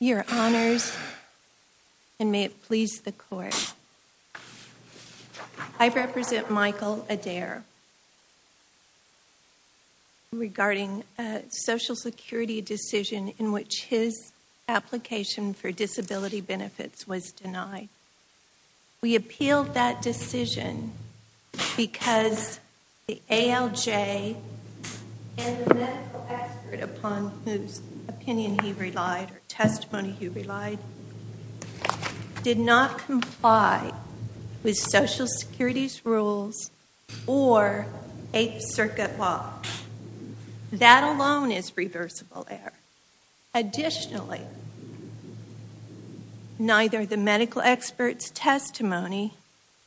Your Honors, and may it please the Court, I represent Michael Adair regarding a Social Security decision in which his application for disability benefits was denied. We appealed that decision because the ALJ and the medical expert upon whose opinion he relied, or testimony he relied, did not comply with Social Security's rules or Eighth Circuit law. That alone is reversible error. Additionally, neither the medical expert's testimony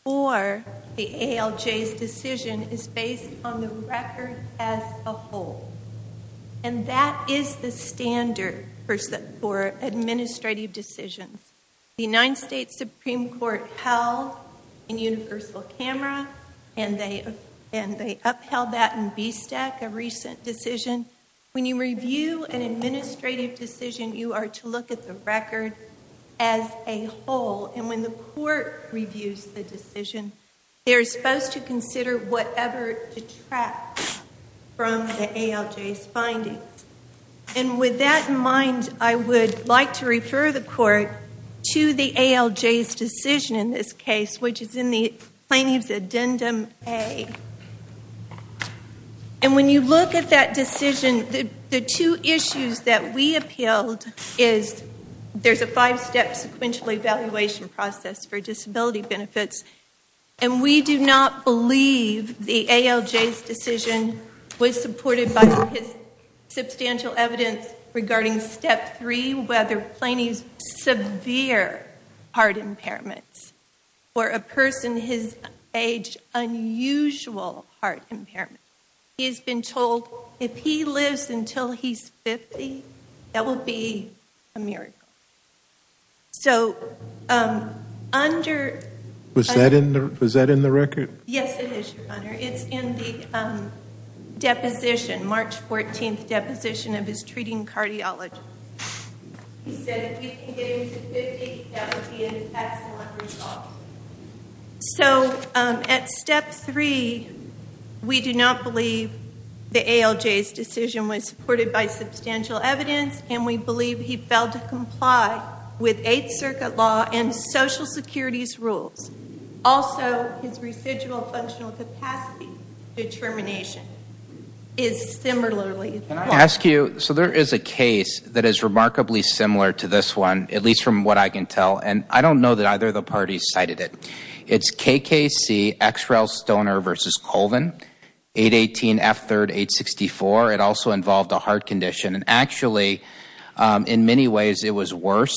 or the ALJ's decision is based on the record as a whole. And that is the standard for administrative decisions. The United States Supreme Court held in universal camera and they upheld that in BSTEC, a recent decision. When you review an administrative decision, you are to look at the record as a whole. And when the court reviews the decision, they're supposed to consider whatever detracts from the ALJ's findings. And with that in mind, I would like to refer the court to the ALJ's decision in this case, which is in the Plaintiff's Addendum A. And when you look at that decision, the two issues that we appealed is there's a five-step sequential evaluation process for disability benefits. And we do not believe the ALJ's decision was supported by his substantial evidence regarding step three, whether Plaintiff's severe heart impairments for a person his age, unusual heart impairment. He's been told if he lives until he's 50, that will be a miracle. So under... Was that in the record? Yes, it is, Your Honor. It's in the deposition, March 14th deposition of his treating cardiologist. He said if he can get into 50, that would be an excellent result. So at step three, we do not believe the ALJ's decision was supported by substantial evidence and we believe he failed to comply with Eighth Circuit law and Social Security's rules. Also, his residual functional capacity determination is similarly... Can I ask you, so there is a case that is remarkably similar to this one, at least from what I can tell. And I don't know that either of the parties cited it. It's KKC, X-Rail Stoner v. Colvin, 818F3-864. It also involved a heart condition. And actually, in many ways, it was worse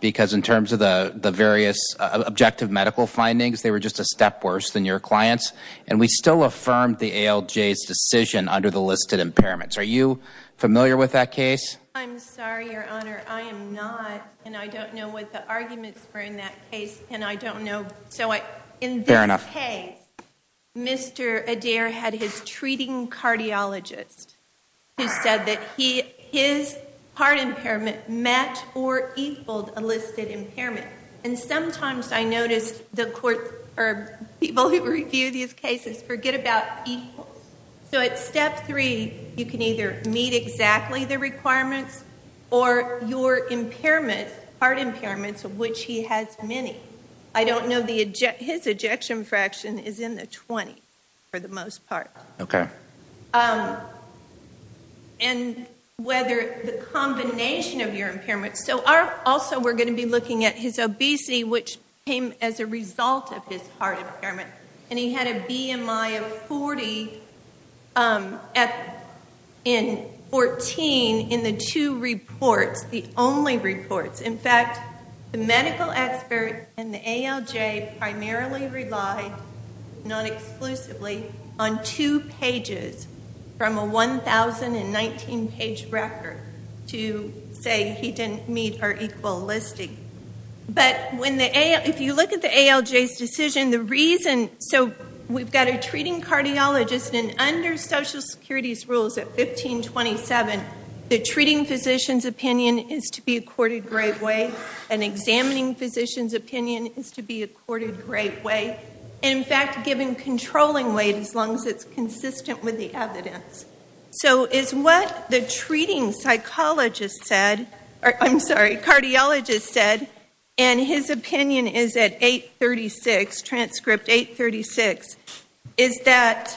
because in terms of the various objective medical findings, they were just a step worse than your client's. And we still affirmed the ALJ's decision under the listed impairments. Are you familiar with that case? I'm sorry, Your Honor. I am not. And I don't know what the arguments were in that case. And I don't know. So in this case, Mr. Adair had his treating cardiologist who said that his heart impairment matched or equaled a listed impairment. And sometimes I notice the court or people who review these cases forget about equals. So at step three, you can either meet exactly the requirements or your impairment, heart impairments, of which he has many. I don't know the... His ejection fraction is in the 20 for the most part. Okay. And whether the combination of your impairment... So also, we're going to be looking at his obesity, which came as a result of his heart impairment. And he had a BMI of 40 in 14 in the two reports, the only reports. In fact, the medical expert and the ALJ primarily relied, not exclusively, on two pages from a 1,019-page record to say he didn't meet or equal listing. But if you look at the ALJ's decision, the reason... So we've got a treating cardiologist and under Social Security's rules at 1527, the treating physician's opinion is to be accorded great weight. An examining physician's opinion is to be accorded great weight. And in fact, given controlling weight as long as it's consistent with the evidence. So is what the treating psychologist said... I'm sorry, cardiologist said, and his opinion is at 836, transcript 836, is that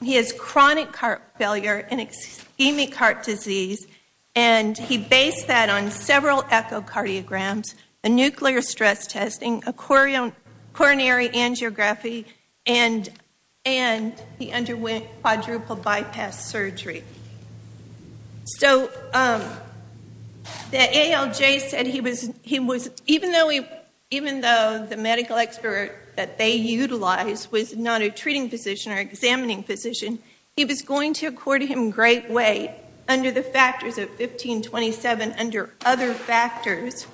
he has chronic heart failure and ischemic heart disease. And he based that on several echocardiograms, a nuclear stress testing, a coronary angiography, and he underwent quadruple bypass surgery. So the ALJ said he was... Even though the medical expert that they utilized was not a treating physician or examining physician, he was going to accord him great weight under the factors of 1527, under other factors,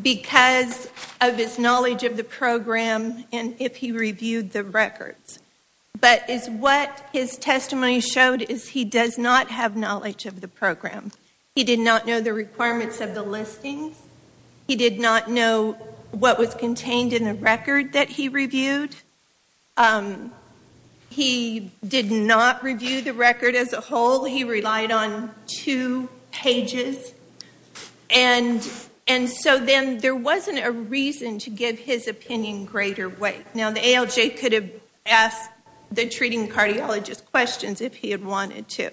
because of his knowledge of the program and if he reviewed the records. But is what his testimony showed is he does not have knowledge of the program. He did not know the requirements of the listings. He did not know what was contained in the record that he reviewed. He did not review the record as a whole. He relied on two pages. And so then there wasn't a reason to give his opinion greater weight. Now the ALJ could have asked the treating cardiologist questions if he had wanted to.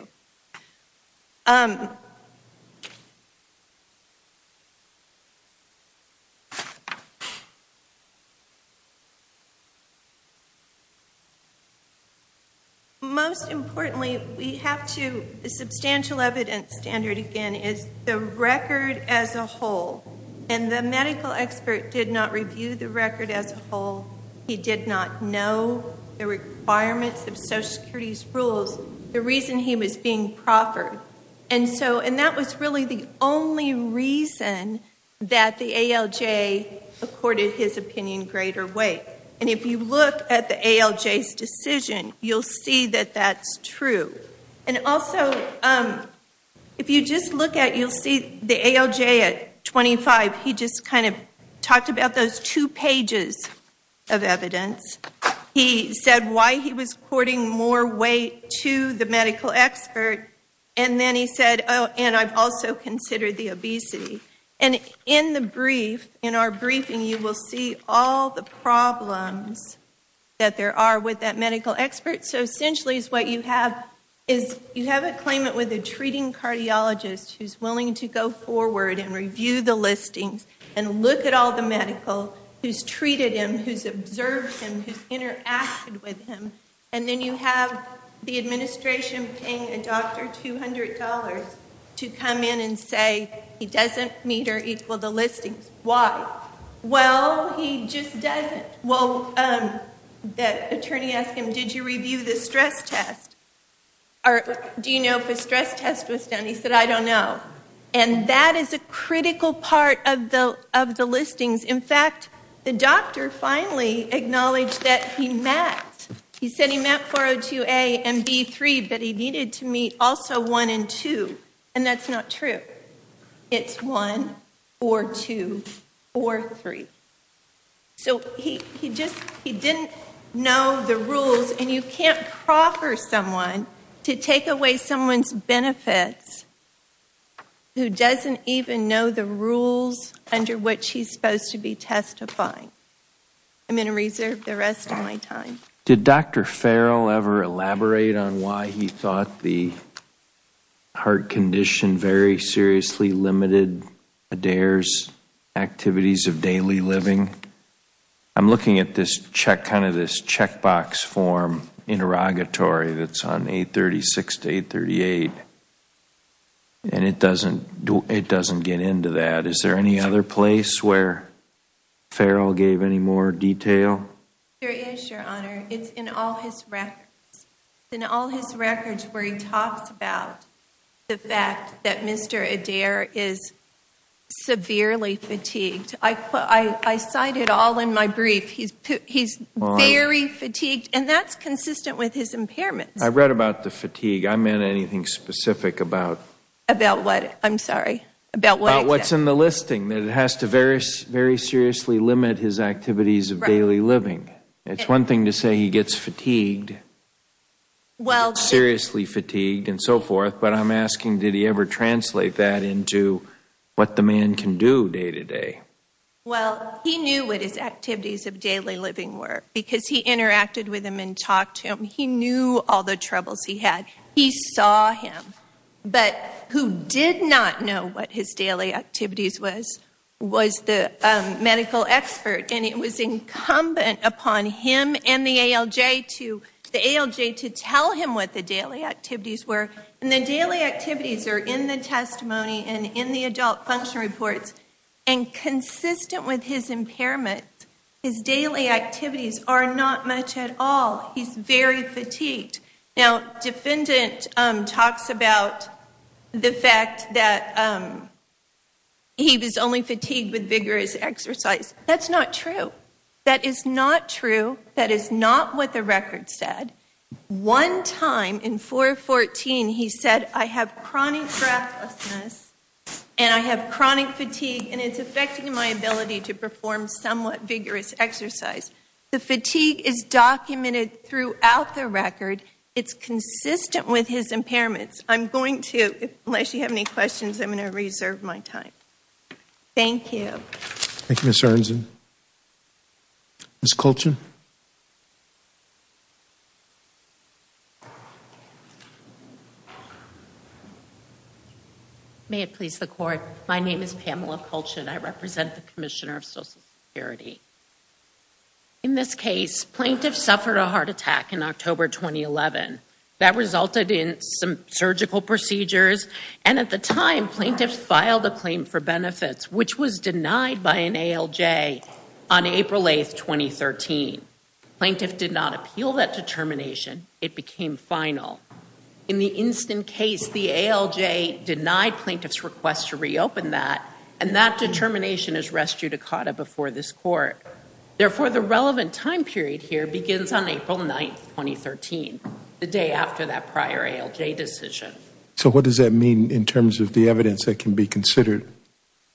Most importantly, we have to... The substantial evidence standard again is the record as a whole. And the medical expert did not review the record as a whole. He did not know the requirements of Social Security's rules, the reason he was being proffered. And that was really the only reason that the ALJ accorded his opinion greater weight. And if you look at the ALJ's decision, you'll see that that's true. And also, if you just look at, you'll see the ALJ at 25, he just kind of talked about those two pages of evidence. He said why he was courting more weight to the medical expert. And then he said, oh, and I've also considered the obesity. And in the brief, in our briefing, you will see all the problems that there are with that medical expert. So essentially is what you have, is you have a claimant with a treating cardiologist who's willing to go forward and review the listings and look at all the medical, who's treated him, who's observed him, who's interacted with him. And then you have the he doesn't meet or equal the listings. Why? Well, he just doesn't. Well, the attorney asked him, did you review the stress test? Or do you know if a stress test was done? He said, I don't know. And that is a critical part of the listings. In fact, the doctor finally acknowledged that he met, he said he met 402A and B3, but he needed to meet also one and two. And that's not true. It's one or two or three. So he just, he didn't know the rules and you can't proffer someone to take away someone's benefits who doesn't even know the rules under which he's supposed to be testifying. I'm going to reserve the rest of my time. Did Dr. Farrell ever elaborate on why he thought the heart condition very seriously limited Adair's activities of daily living? I'm looking at this check, kind of this checkbox form interrogatory that's on 836 to 838. And it doesn't, it doesn't get into that. Is there any other place where Farrell gave any more detail? There is, your honor. It's in all his records. In all his records where he talks about the fact that Mr. Adair is severely fatigued. I, I cited all in my brief, he's very fatigued and that's consistent with his impairments. I read about the fatigue. I meant anything specific about, about what I'm sorry, about what's in the listing that it has to very, very seriously limit his activities of daily living. It's one thing to say he gets fatigued, well, seriously fatigued and so forth. But I'm asking, did he ever translate that into what the man can do day to day? Well, he knew what his activities of daily living were because he interacted with him and talked to him. He knew all the troubles he had. He saw him. But who did not know what his daily activities was, was the medical expert. And it was incumbent upon him and the ALJ to, the ALJ to tell him what the daily activities were. And the daily activities are in the testimony and in the adult function reports. And consistent with his are not much at all. He's very fatigued. Now, defendant talks about the fact that he was only fatigued with vigorous exercise. That's not true. That is not true. That is not what the record said. One time in 414, he said, I have chronic breathlessness and I have chronic fatigue and it's affecting my ability to perform somewhat vigorous exercise. The fatigue is documented throughout the record. It's consistent with his impairments. I'm going to, unless you have any questions, I'm going to reserve my time. Thank you. Thank you, Ms. Aronson. Ms. Colchin. May it please the court. My name is Pamela Colchin. I represent the Commissioner of Social Security. In this case, plaintiffs suffered a heart attack in October 2011. That resulted in some surgical procedures. And at the time, plaintiffs filed a claim for benefits, which was denied by an ALJ on April 8th, 2013. The ALJ did not file a claim for benefits. The ALJ plaintiff did not appeal that determination. It became final. In the instant case, the ALJ denied plaintiff's request to reopen that. And that determination is res judicata before this court. Therefore, the relevant time period here begins on April 9th, 2013, the day after that prior ALJ decision. So what does that mean in terms of the evidence that can be considered?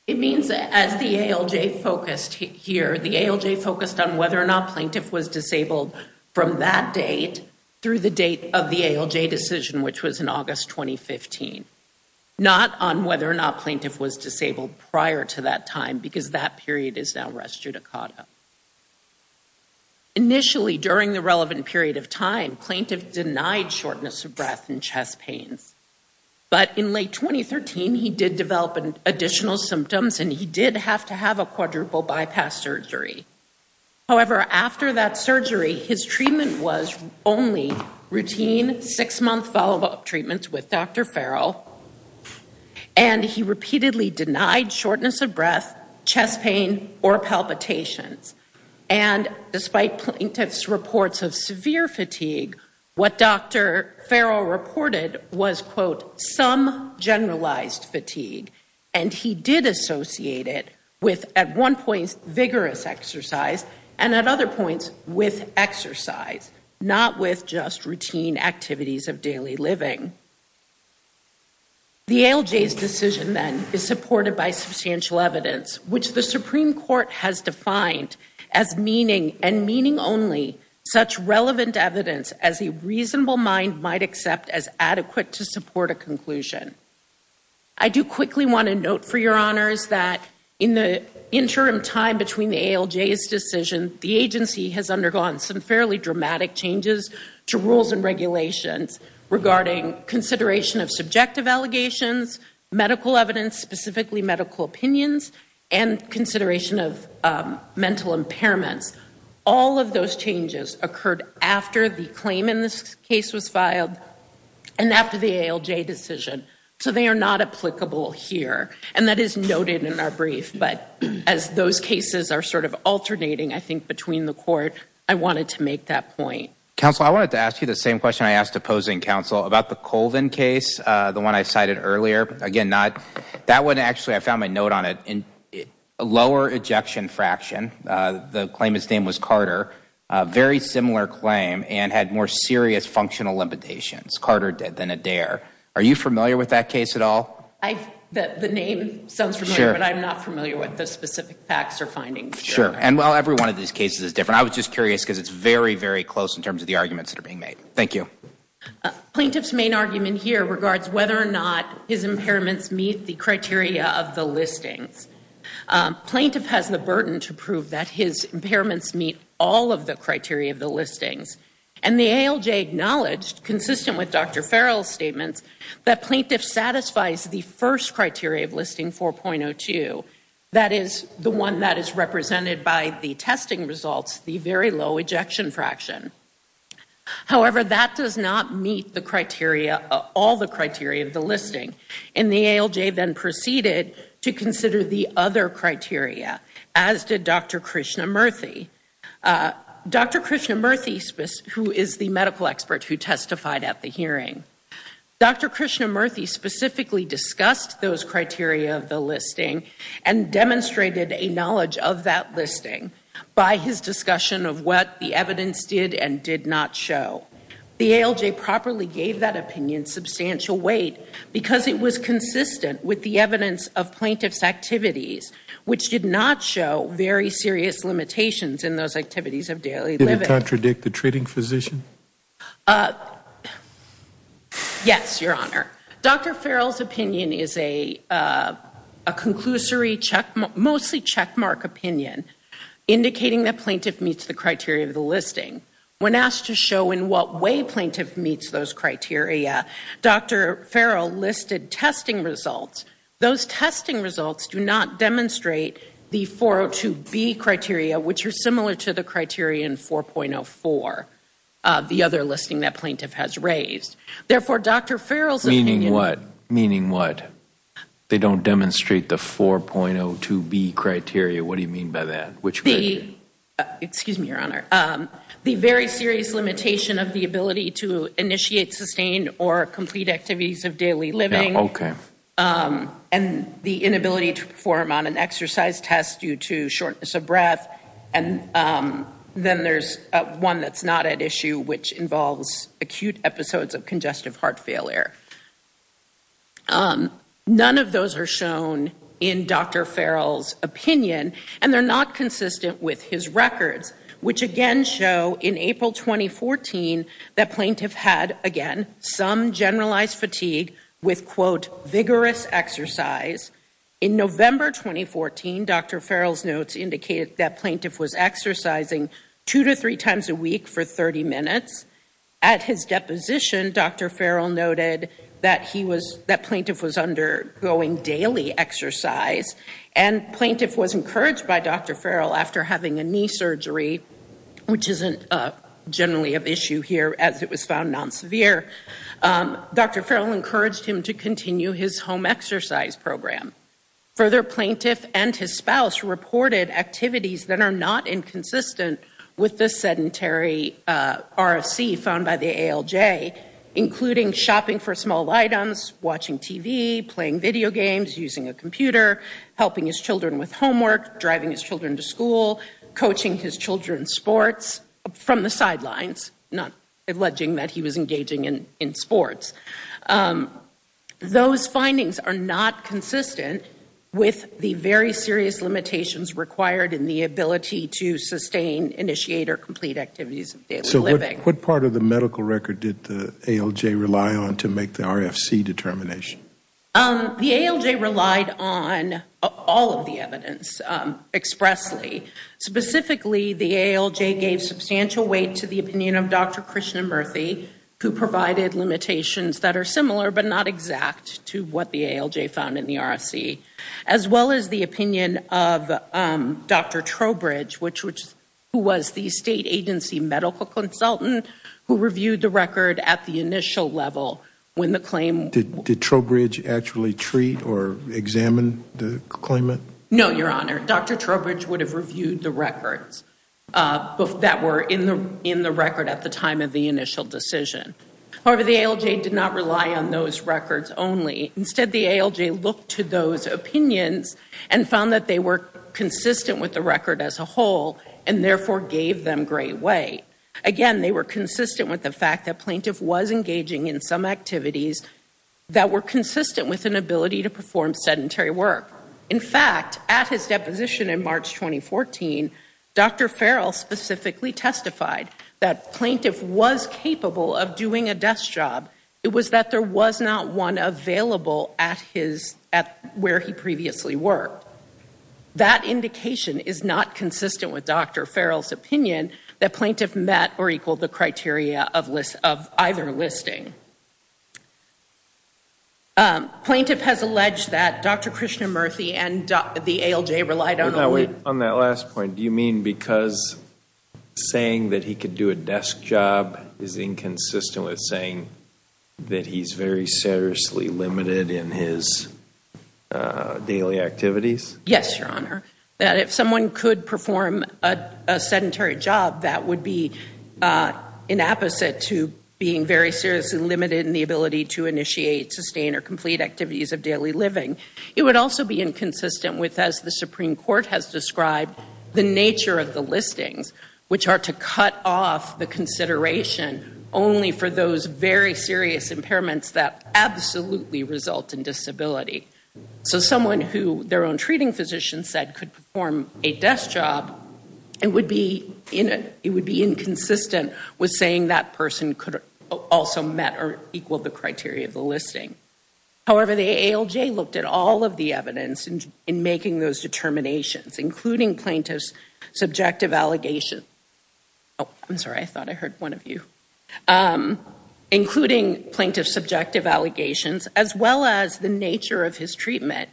It means that as the ALJ focused here, the ALJ focused on whether or not plaintiff was disabled from that date through the date of the ALJ decision, which was in August 2015. Not on whether or not plaintiff was disabled prior to that time, because that period is now res judicata. Initially, during the relevant period of time, plaintiff denied shortness of And he did have to have a quadruple bypass surgery. However, after that surgery, his treatment was only routine six-month follow-up treatments with Dr. Farrell. And he repeatedly denied shortness of breath, chest pain, or palpitations. And despite plaintiff's reports of severe fatigue, what Dr. Farrell reported was, quote, some generalized fatigue. And he did associate it with, at one point, vigorous exercise, and at other points, with exercise, not with just routine activities of daily living. The ALJ's decision, then, is supported by substantial evidence, which the Supreme Court has defined as meaning, and meaning only, such relevant evidence as a reasonable mind might accept as adequate to support a conclusion. I do quickly want to note, for your honors, that in the interim time between the ALJ's decision, the agency has undergone some fairly dramatic changes to rules and regulations regarding consideration of subjective allegations, medical evidence, specifically medical opinions, and consideration of mental impairments. All of those changes occurred after the claim in this case was filed and after the ALJ decision. So they are not applicable here. And that is noted in our brief. But as those cases are sort of alternating, I think, between the court, I wanted to make that point. Counsel, I wanted to ask you the same question I asked opposing counsel about the Colvin case, the one I cited earlier. Again, that one, actually, I found my note on it. A lower ejection fraction, the claimant's name was Carter, a very similar claim, and had more serious functional limitations. Carter did than Adair. Are you familiar with that case at all? The name sounds familiar, but I'm not familiar with the specific facts or findings. Sure. And, well, every one of these cases is different. I was just curious because it's very, very close in terms of the arguments that are being made. Thank you. Plaintiff's main argument here regards whether or not his impairments meet the criteria of the listings. Plaintiff has the burden to prove that his impairments meet all of the criteria of the listings. And the ALJ acknowledged, consistent with Dr. Farrell's statements, that plaintiff satisfies the first criteria of listing 4.02. That is the one that is represented by the testing results, the very low ejection fraction. However, that does not meet all the criteria of the listing. And the ALJ then proceeded to consider the other criteria, as did Dr. Krishnamurthy, who is the medical expert who testified at the hearing. Dr. Krishnamurthy specifically discussed those criteria of the listing and demonstrated a knowledge of that listing by his discussion of what the evidence did and did not show. The ALJ properly gave that opinion substantial weight because it was consistent with the evidence of plaintiff's activities, which did not show very serious limitations in those activities of daily living. Did it contradict the treating physician? Yes, Your Honor. Dr. Farrell's opinion is a conclusory, mostly checkmark opinion, indicating that plaintiff meets the criteria of the listing. When asked to show in what way plaintiff meets those criteria, Dr. Farrell listed testing results. Those testing results do not demonstrate the 4.02B criteria, which are similar to the criteria in 4.04, the other listing that plaintiff has raised. Therefore, Dr. Farrell's opinion- Meaning what? Meaning what? They don't demonstrate the 4.02B criteria. What do you mean by that? Which criteria? Excuse me, Your Honor. The very serious limitation of the ability to initiate sustained or complete activities of daily living and the inability to perform on an exercise test due to shortness of breath. Then there's one that's not at issue, which involves acute episodes of congestive heart failure. None of those are shown in Dr. Farrell's opinion, and they're not consistent with his records, which again show in April 2014 that plaintiff had, again, some generalized fatigue with, quote, vigorous exercise. In November 2014, Dr. Farrell's notes indicated that plaintiff was undergoing daily exercise, and plaintiff was encouraged by Dr. Farrell after having a knee surgery, which isn't generally of issue here, as it was found non-severe. Dr. Farrell encouraged him to continue his home exercise program. Further, plaintiff and his spouse reported activities that are not inconsistent with this sedentary RFC found by the ALJ, including shopping for small items, watching TV, playing video games, using a computer, helping his children with homework, driving his children to school, coaching his children's sports from the sidelines, not alleging that he was engaging in sports. Those findings are not consistent with the very serious limitations required in the ability to sustain, initiate, or complete activities of daily living. What part of the medical record did the ALJ rely on to make the RFC determination? The ALJ relied on all of the evidence expressly. Specifically, the ALJ gave substantial weight to the opinion of Dr. Krishnamurthy, who provided limitations that are similar but not exact to what the ALJ found in the RFC, as well as the opinion of Dr. Trowbridge, who was the state agency medical consultant who reviewed the record at the initial level. Did Trowbridge actually treat or examine the claimant? No, your honor. Dr. Trowbridge would have reviewed the records that were in the record at the time of the initial decision. However, the ALJ did not review those records only. Instead, the ALJ looked to those opinions and found that they were consistent with the record as a whole and therefore gave them great weight. Again, they were consistent with the fact that plaintiff was engaging in some activities that were consistent with an ability to perform sedentary work. In fact, at his deposition in March 2014, Dr. Farrell specifically testified that available at where he previously worked. That indication is not consistent with Dr. Farrell's opinion that plaintiff met or equaled the criteria of either listing. Plaintiff has alleged that Dr. Krishnamurthy and the ALJ relied on... On that last point, do you mean because saying that he could do a desk job is inconsistent with saying that he's very seriously limited in his daily activities? Yes, your honor. That if someone could perform a sedentary job, that would be an opposite to being very seriously limited in the ability to initiate, sustain, or complete activities of daily living. It would also be inconsistent with, as the Supreme Court has described, the nature of the listings, which are to cut off the consideration only for those very serious impairments that absolutely result in disability. So someone who their own treating physician said could perform a desk job, it would be inconsistent with saying that person could also met or equal the criteria of the listing. However, the ALJ looked at all of the evidence in making those determinations, including plaintiff's subjective allegations. Oh, I'm sorry. I thought I heard one of you. Including plaintiff's subjective allegations, as well as the nature of his treatment.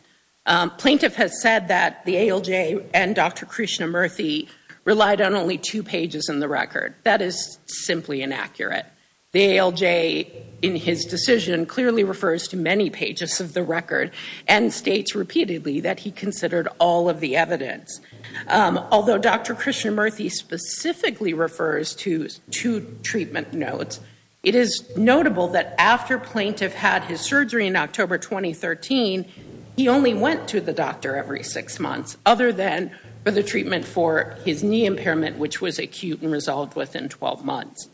Plaintiff has said that the ALJ and Dr. Krishnamurthy relied on only two pages in the record. That is simply inaccurate. The ALJ in his decision clearly refers to many pages of the record and states repeatedly that he considered all of the Dr. Krishnamurthy specifically refers to two treatment notes. It is notable that after plaintiff had his surgery in October 2013, he only went to the doctor every six months, other than for the treatment for his knee impairment, which was acute and resolved within 12 months.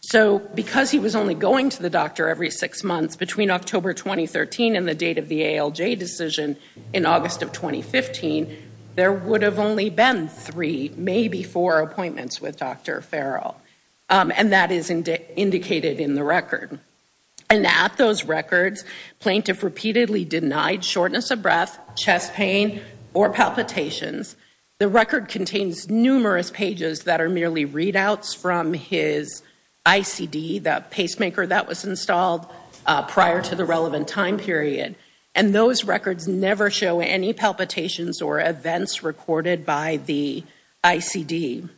So because he was only going to the doctor every six months between October 2013 and the date of the ALJ decision in August of 2015, there would have only been three, maybe four appointments with Dr. Farrell. And that is indicated in the record. And at those records, plaintiff repeatedly denied shortness of breath, chest pain, or palpitations. The record contains numerous pages that are merely readouts from his ICD, the pacemaker that was installed prior to the relevant time period. And those are events recorded by the ICD.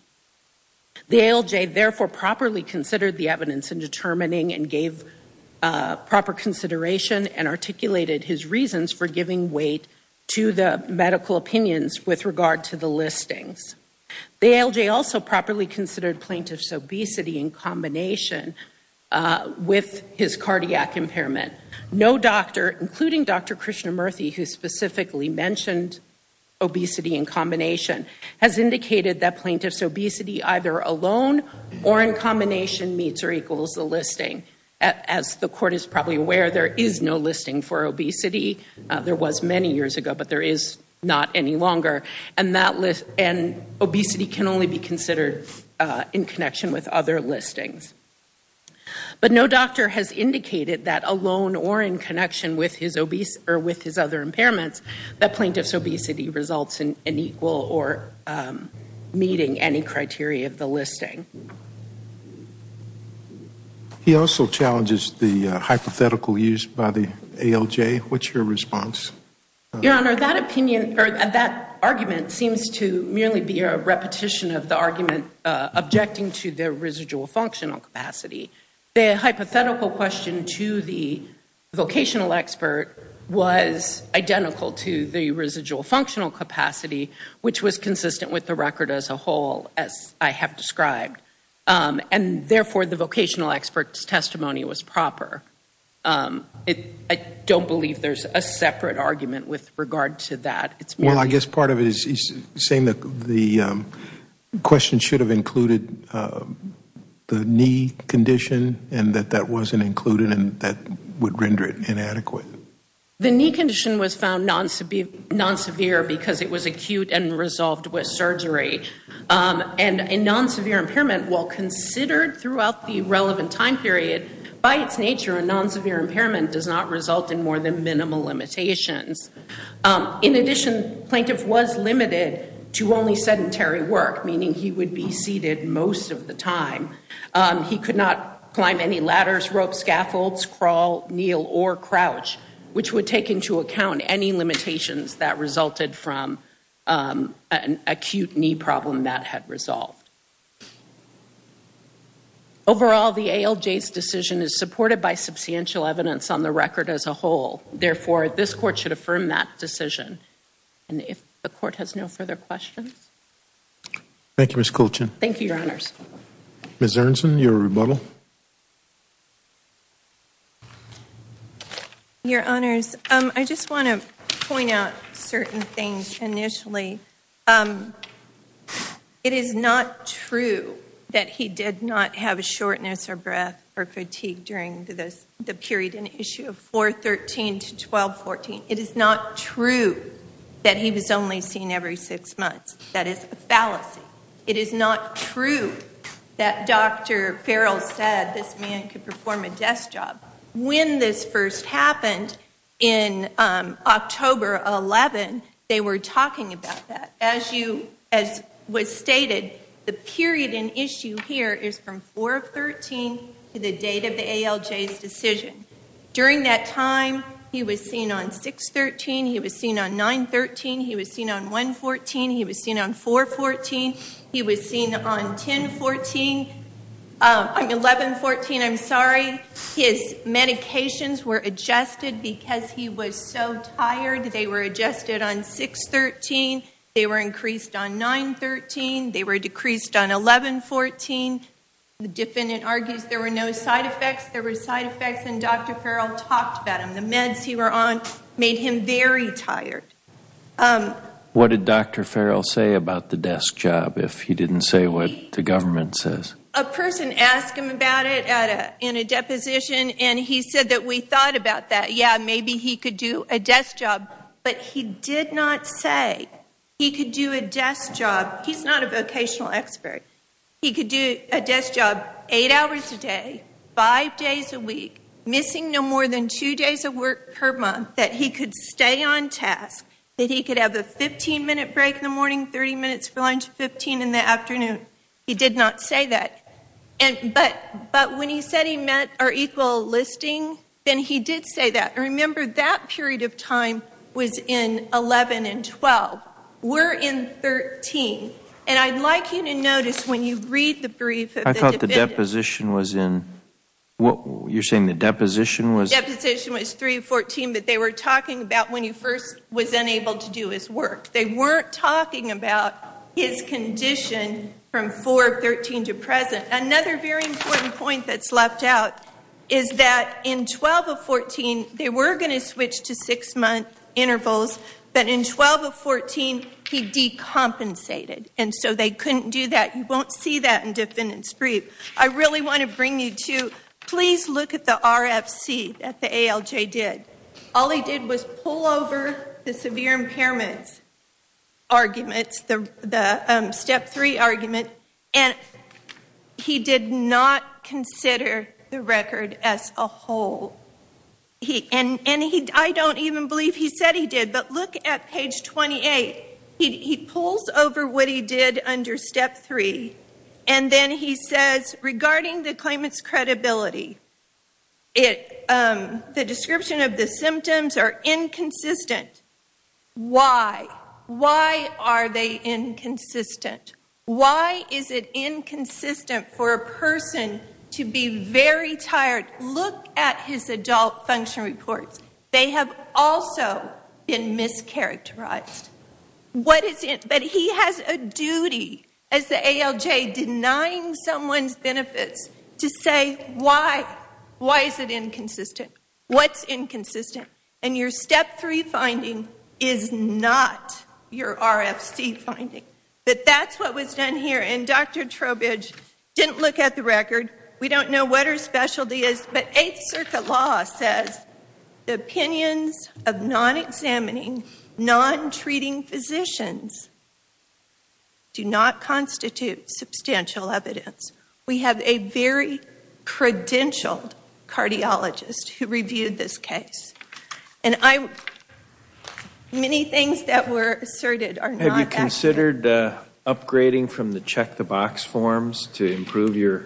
The ALJ therefore properly considered the evidence in determining and gave proper consideration and articulated his reasons for giving weight to the medical opinions with regard to the listings. The ALJ also properly considered plaintiff's obesity in combination with his cardiac impairment. No doctor, including Dr. Krishnamurthy, who specifically mentioned obesity in combination, has indicated that plaintiff's obesity either alone or in combination meets or equals the listing. As the court is probably aware, there is no listing for obesity. There was many years ago, but there is not any longer. And obesity can only be considered in connection with other listings. But no doctor has indicated that alone or in connection with his other impairments that plaintiff's obesity results in equal or meeting any criteria of the listing. He also challenges the hypothetical used by the ALJ. What's your response? Your Honor, that opinion or that argument seems to merely be a repetition of the argument objecting to the residual functional capacity. The hypothetical question to the vocational expert was identical to the residual functional capacity, which was consistent with the record as a whole, as I have described. And therefore, the vocational expert's testimony was proper. I don't believe there's a separate argument with regard to that. Well, I guess part of it is saying that the question should have included the knee condition and that that wasn't included and that would render it inadequate. The knee condition was found non-severe because it was acute and resolved with surgery. And a non-severe impairment, while considered throughout the relevant time period, by its nature, a non-severe impairment does not result in more than minimal limitations. In addition, plaintiff was limited to only sedentary work, meaning he would be seated most of the time. He could not climb any ladders, ropes, scaffolds, crawl, kneel or crouch, which would take into account any limitations that resulted from an acute knee problem that had resolved. Overall, the ALJ's decision is supported by substantial evidence on the record as a whole. Therefore, this Court should affirm that decision. And if the Court has no further questions? Thank you, Ms. Colchin. Thank you, Your Honors. Ms. Ernst, your rebuttal. Your Honors, I just want to point out certain things initially. It is not true that he did not have a shortness of breath or fatigue during the period in issue 413 to 1214. It is not true that he was only seen every six months. That is a fallacy. It is not true that Dr. Farrell said this man could perform a desk job. When this first happened in October 11, they were talking about that. As was stated, the period in issue here is from 413 to the date of the ALJ's decision. During that time, he was seen on 613, he was seen on 913, he was seen on 114, he was seen on 414, he was seen on 1114. His medications were adjusted because he was so tired. They were adjusted on 613. They were increased on 913. They were decreased on 1114. The defendant argues there were no side effects. There were side effects, and Dr. Farrell talked about them. The meds he was on made him very tired. What did Dr. Farrell say about the desk job if he did not say what the government says? A person asked him about it in a deposition, and he said that we thought about that. Yes, maybe he could do a desk job, but he did not say he could do a desk job. He did not say that. But when he said he met our equal listing, then he did say that. Remember, that period of time was in 11 and 12. We are in 13. I would like you to notice when you read the deposition, you are saying the deposition was? The deposition was 314, but they were talking about when he first was unable to do his work. They were not talking about his condition from 413 to present. Another very important point that is left out is that in 12 of 14, they were going to switch to six-month intervals, but in 12 of 14, he decompensated, and so they could not do that. You will not see that in defendant's brief. I really want to bring you to, please look at the RFC that the ALJ did. All he did was pull over the severe impairments arguments, the step three argument, and he did not consider the record as a whole. I do not even believe he said he did, but look at page 28. He pulls over what he did under step three, and then he says, regarding the claimant's credibility, the description of the symptoms are inconsistent. Why? Why are they inconsistent? Why is it inconsistent for a person to be very tired? Look at his adult function reports. They have also been mischaracterized, but he has a duty as the ALJ denying someone's benefits to say, why is it inconsistent? What is inconsistent? Your step three finding is not your RFC finding, but that is what was done here, and Dr. Trowbridge didn't look at the record. We don't know what her specialty is, but Eighth Circuit law says the opinions of non-examining, non-treating physicians do not constitute substantial evidence. We have a very credentialed cardiologist who reviewed this check-the-box forms to improve your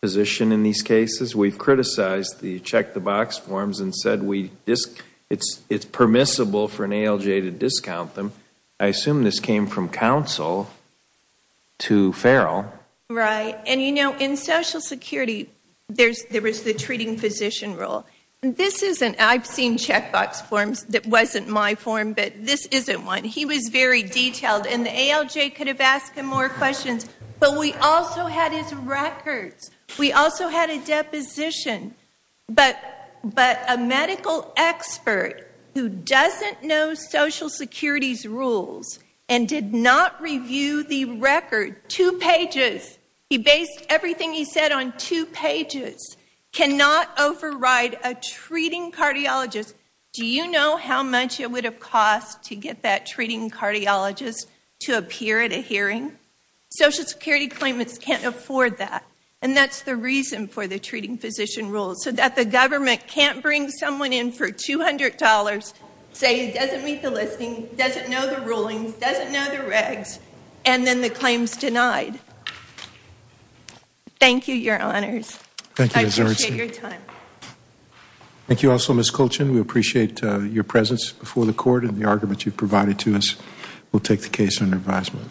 position in these cases. We have criticized the check-the-box forms and said it is permissible for an ALJ to discount them. I assume this came from counsel to Farrell. Right, and you know, in Social Security, there was the treating physician rule. I have seen check-box forms that wasn't my form, but this isn't one. He was very detailed, and the ALJ could have asked him more questions, but we also had his records. We also had a deposition, but a medical expert who doesn't know Social Security's rules and did not review the record, two pages, he based everything he said on two pages, cannot override a treating cardiologist to appear at a hearing. Social Security claimants can't afford that, and that's the reason for the treating physician rule, so that the government can't bring someone in for $200, say he doesn't meet the listing, doesn't know the rulings, doesn't know the regs, and then the claim's denied. Thank you, your honors. I appreciate your time. Thank you also, Ms. Colchin. We appreciate your presence before the court and the argument you've made. We'll take the case under advisement.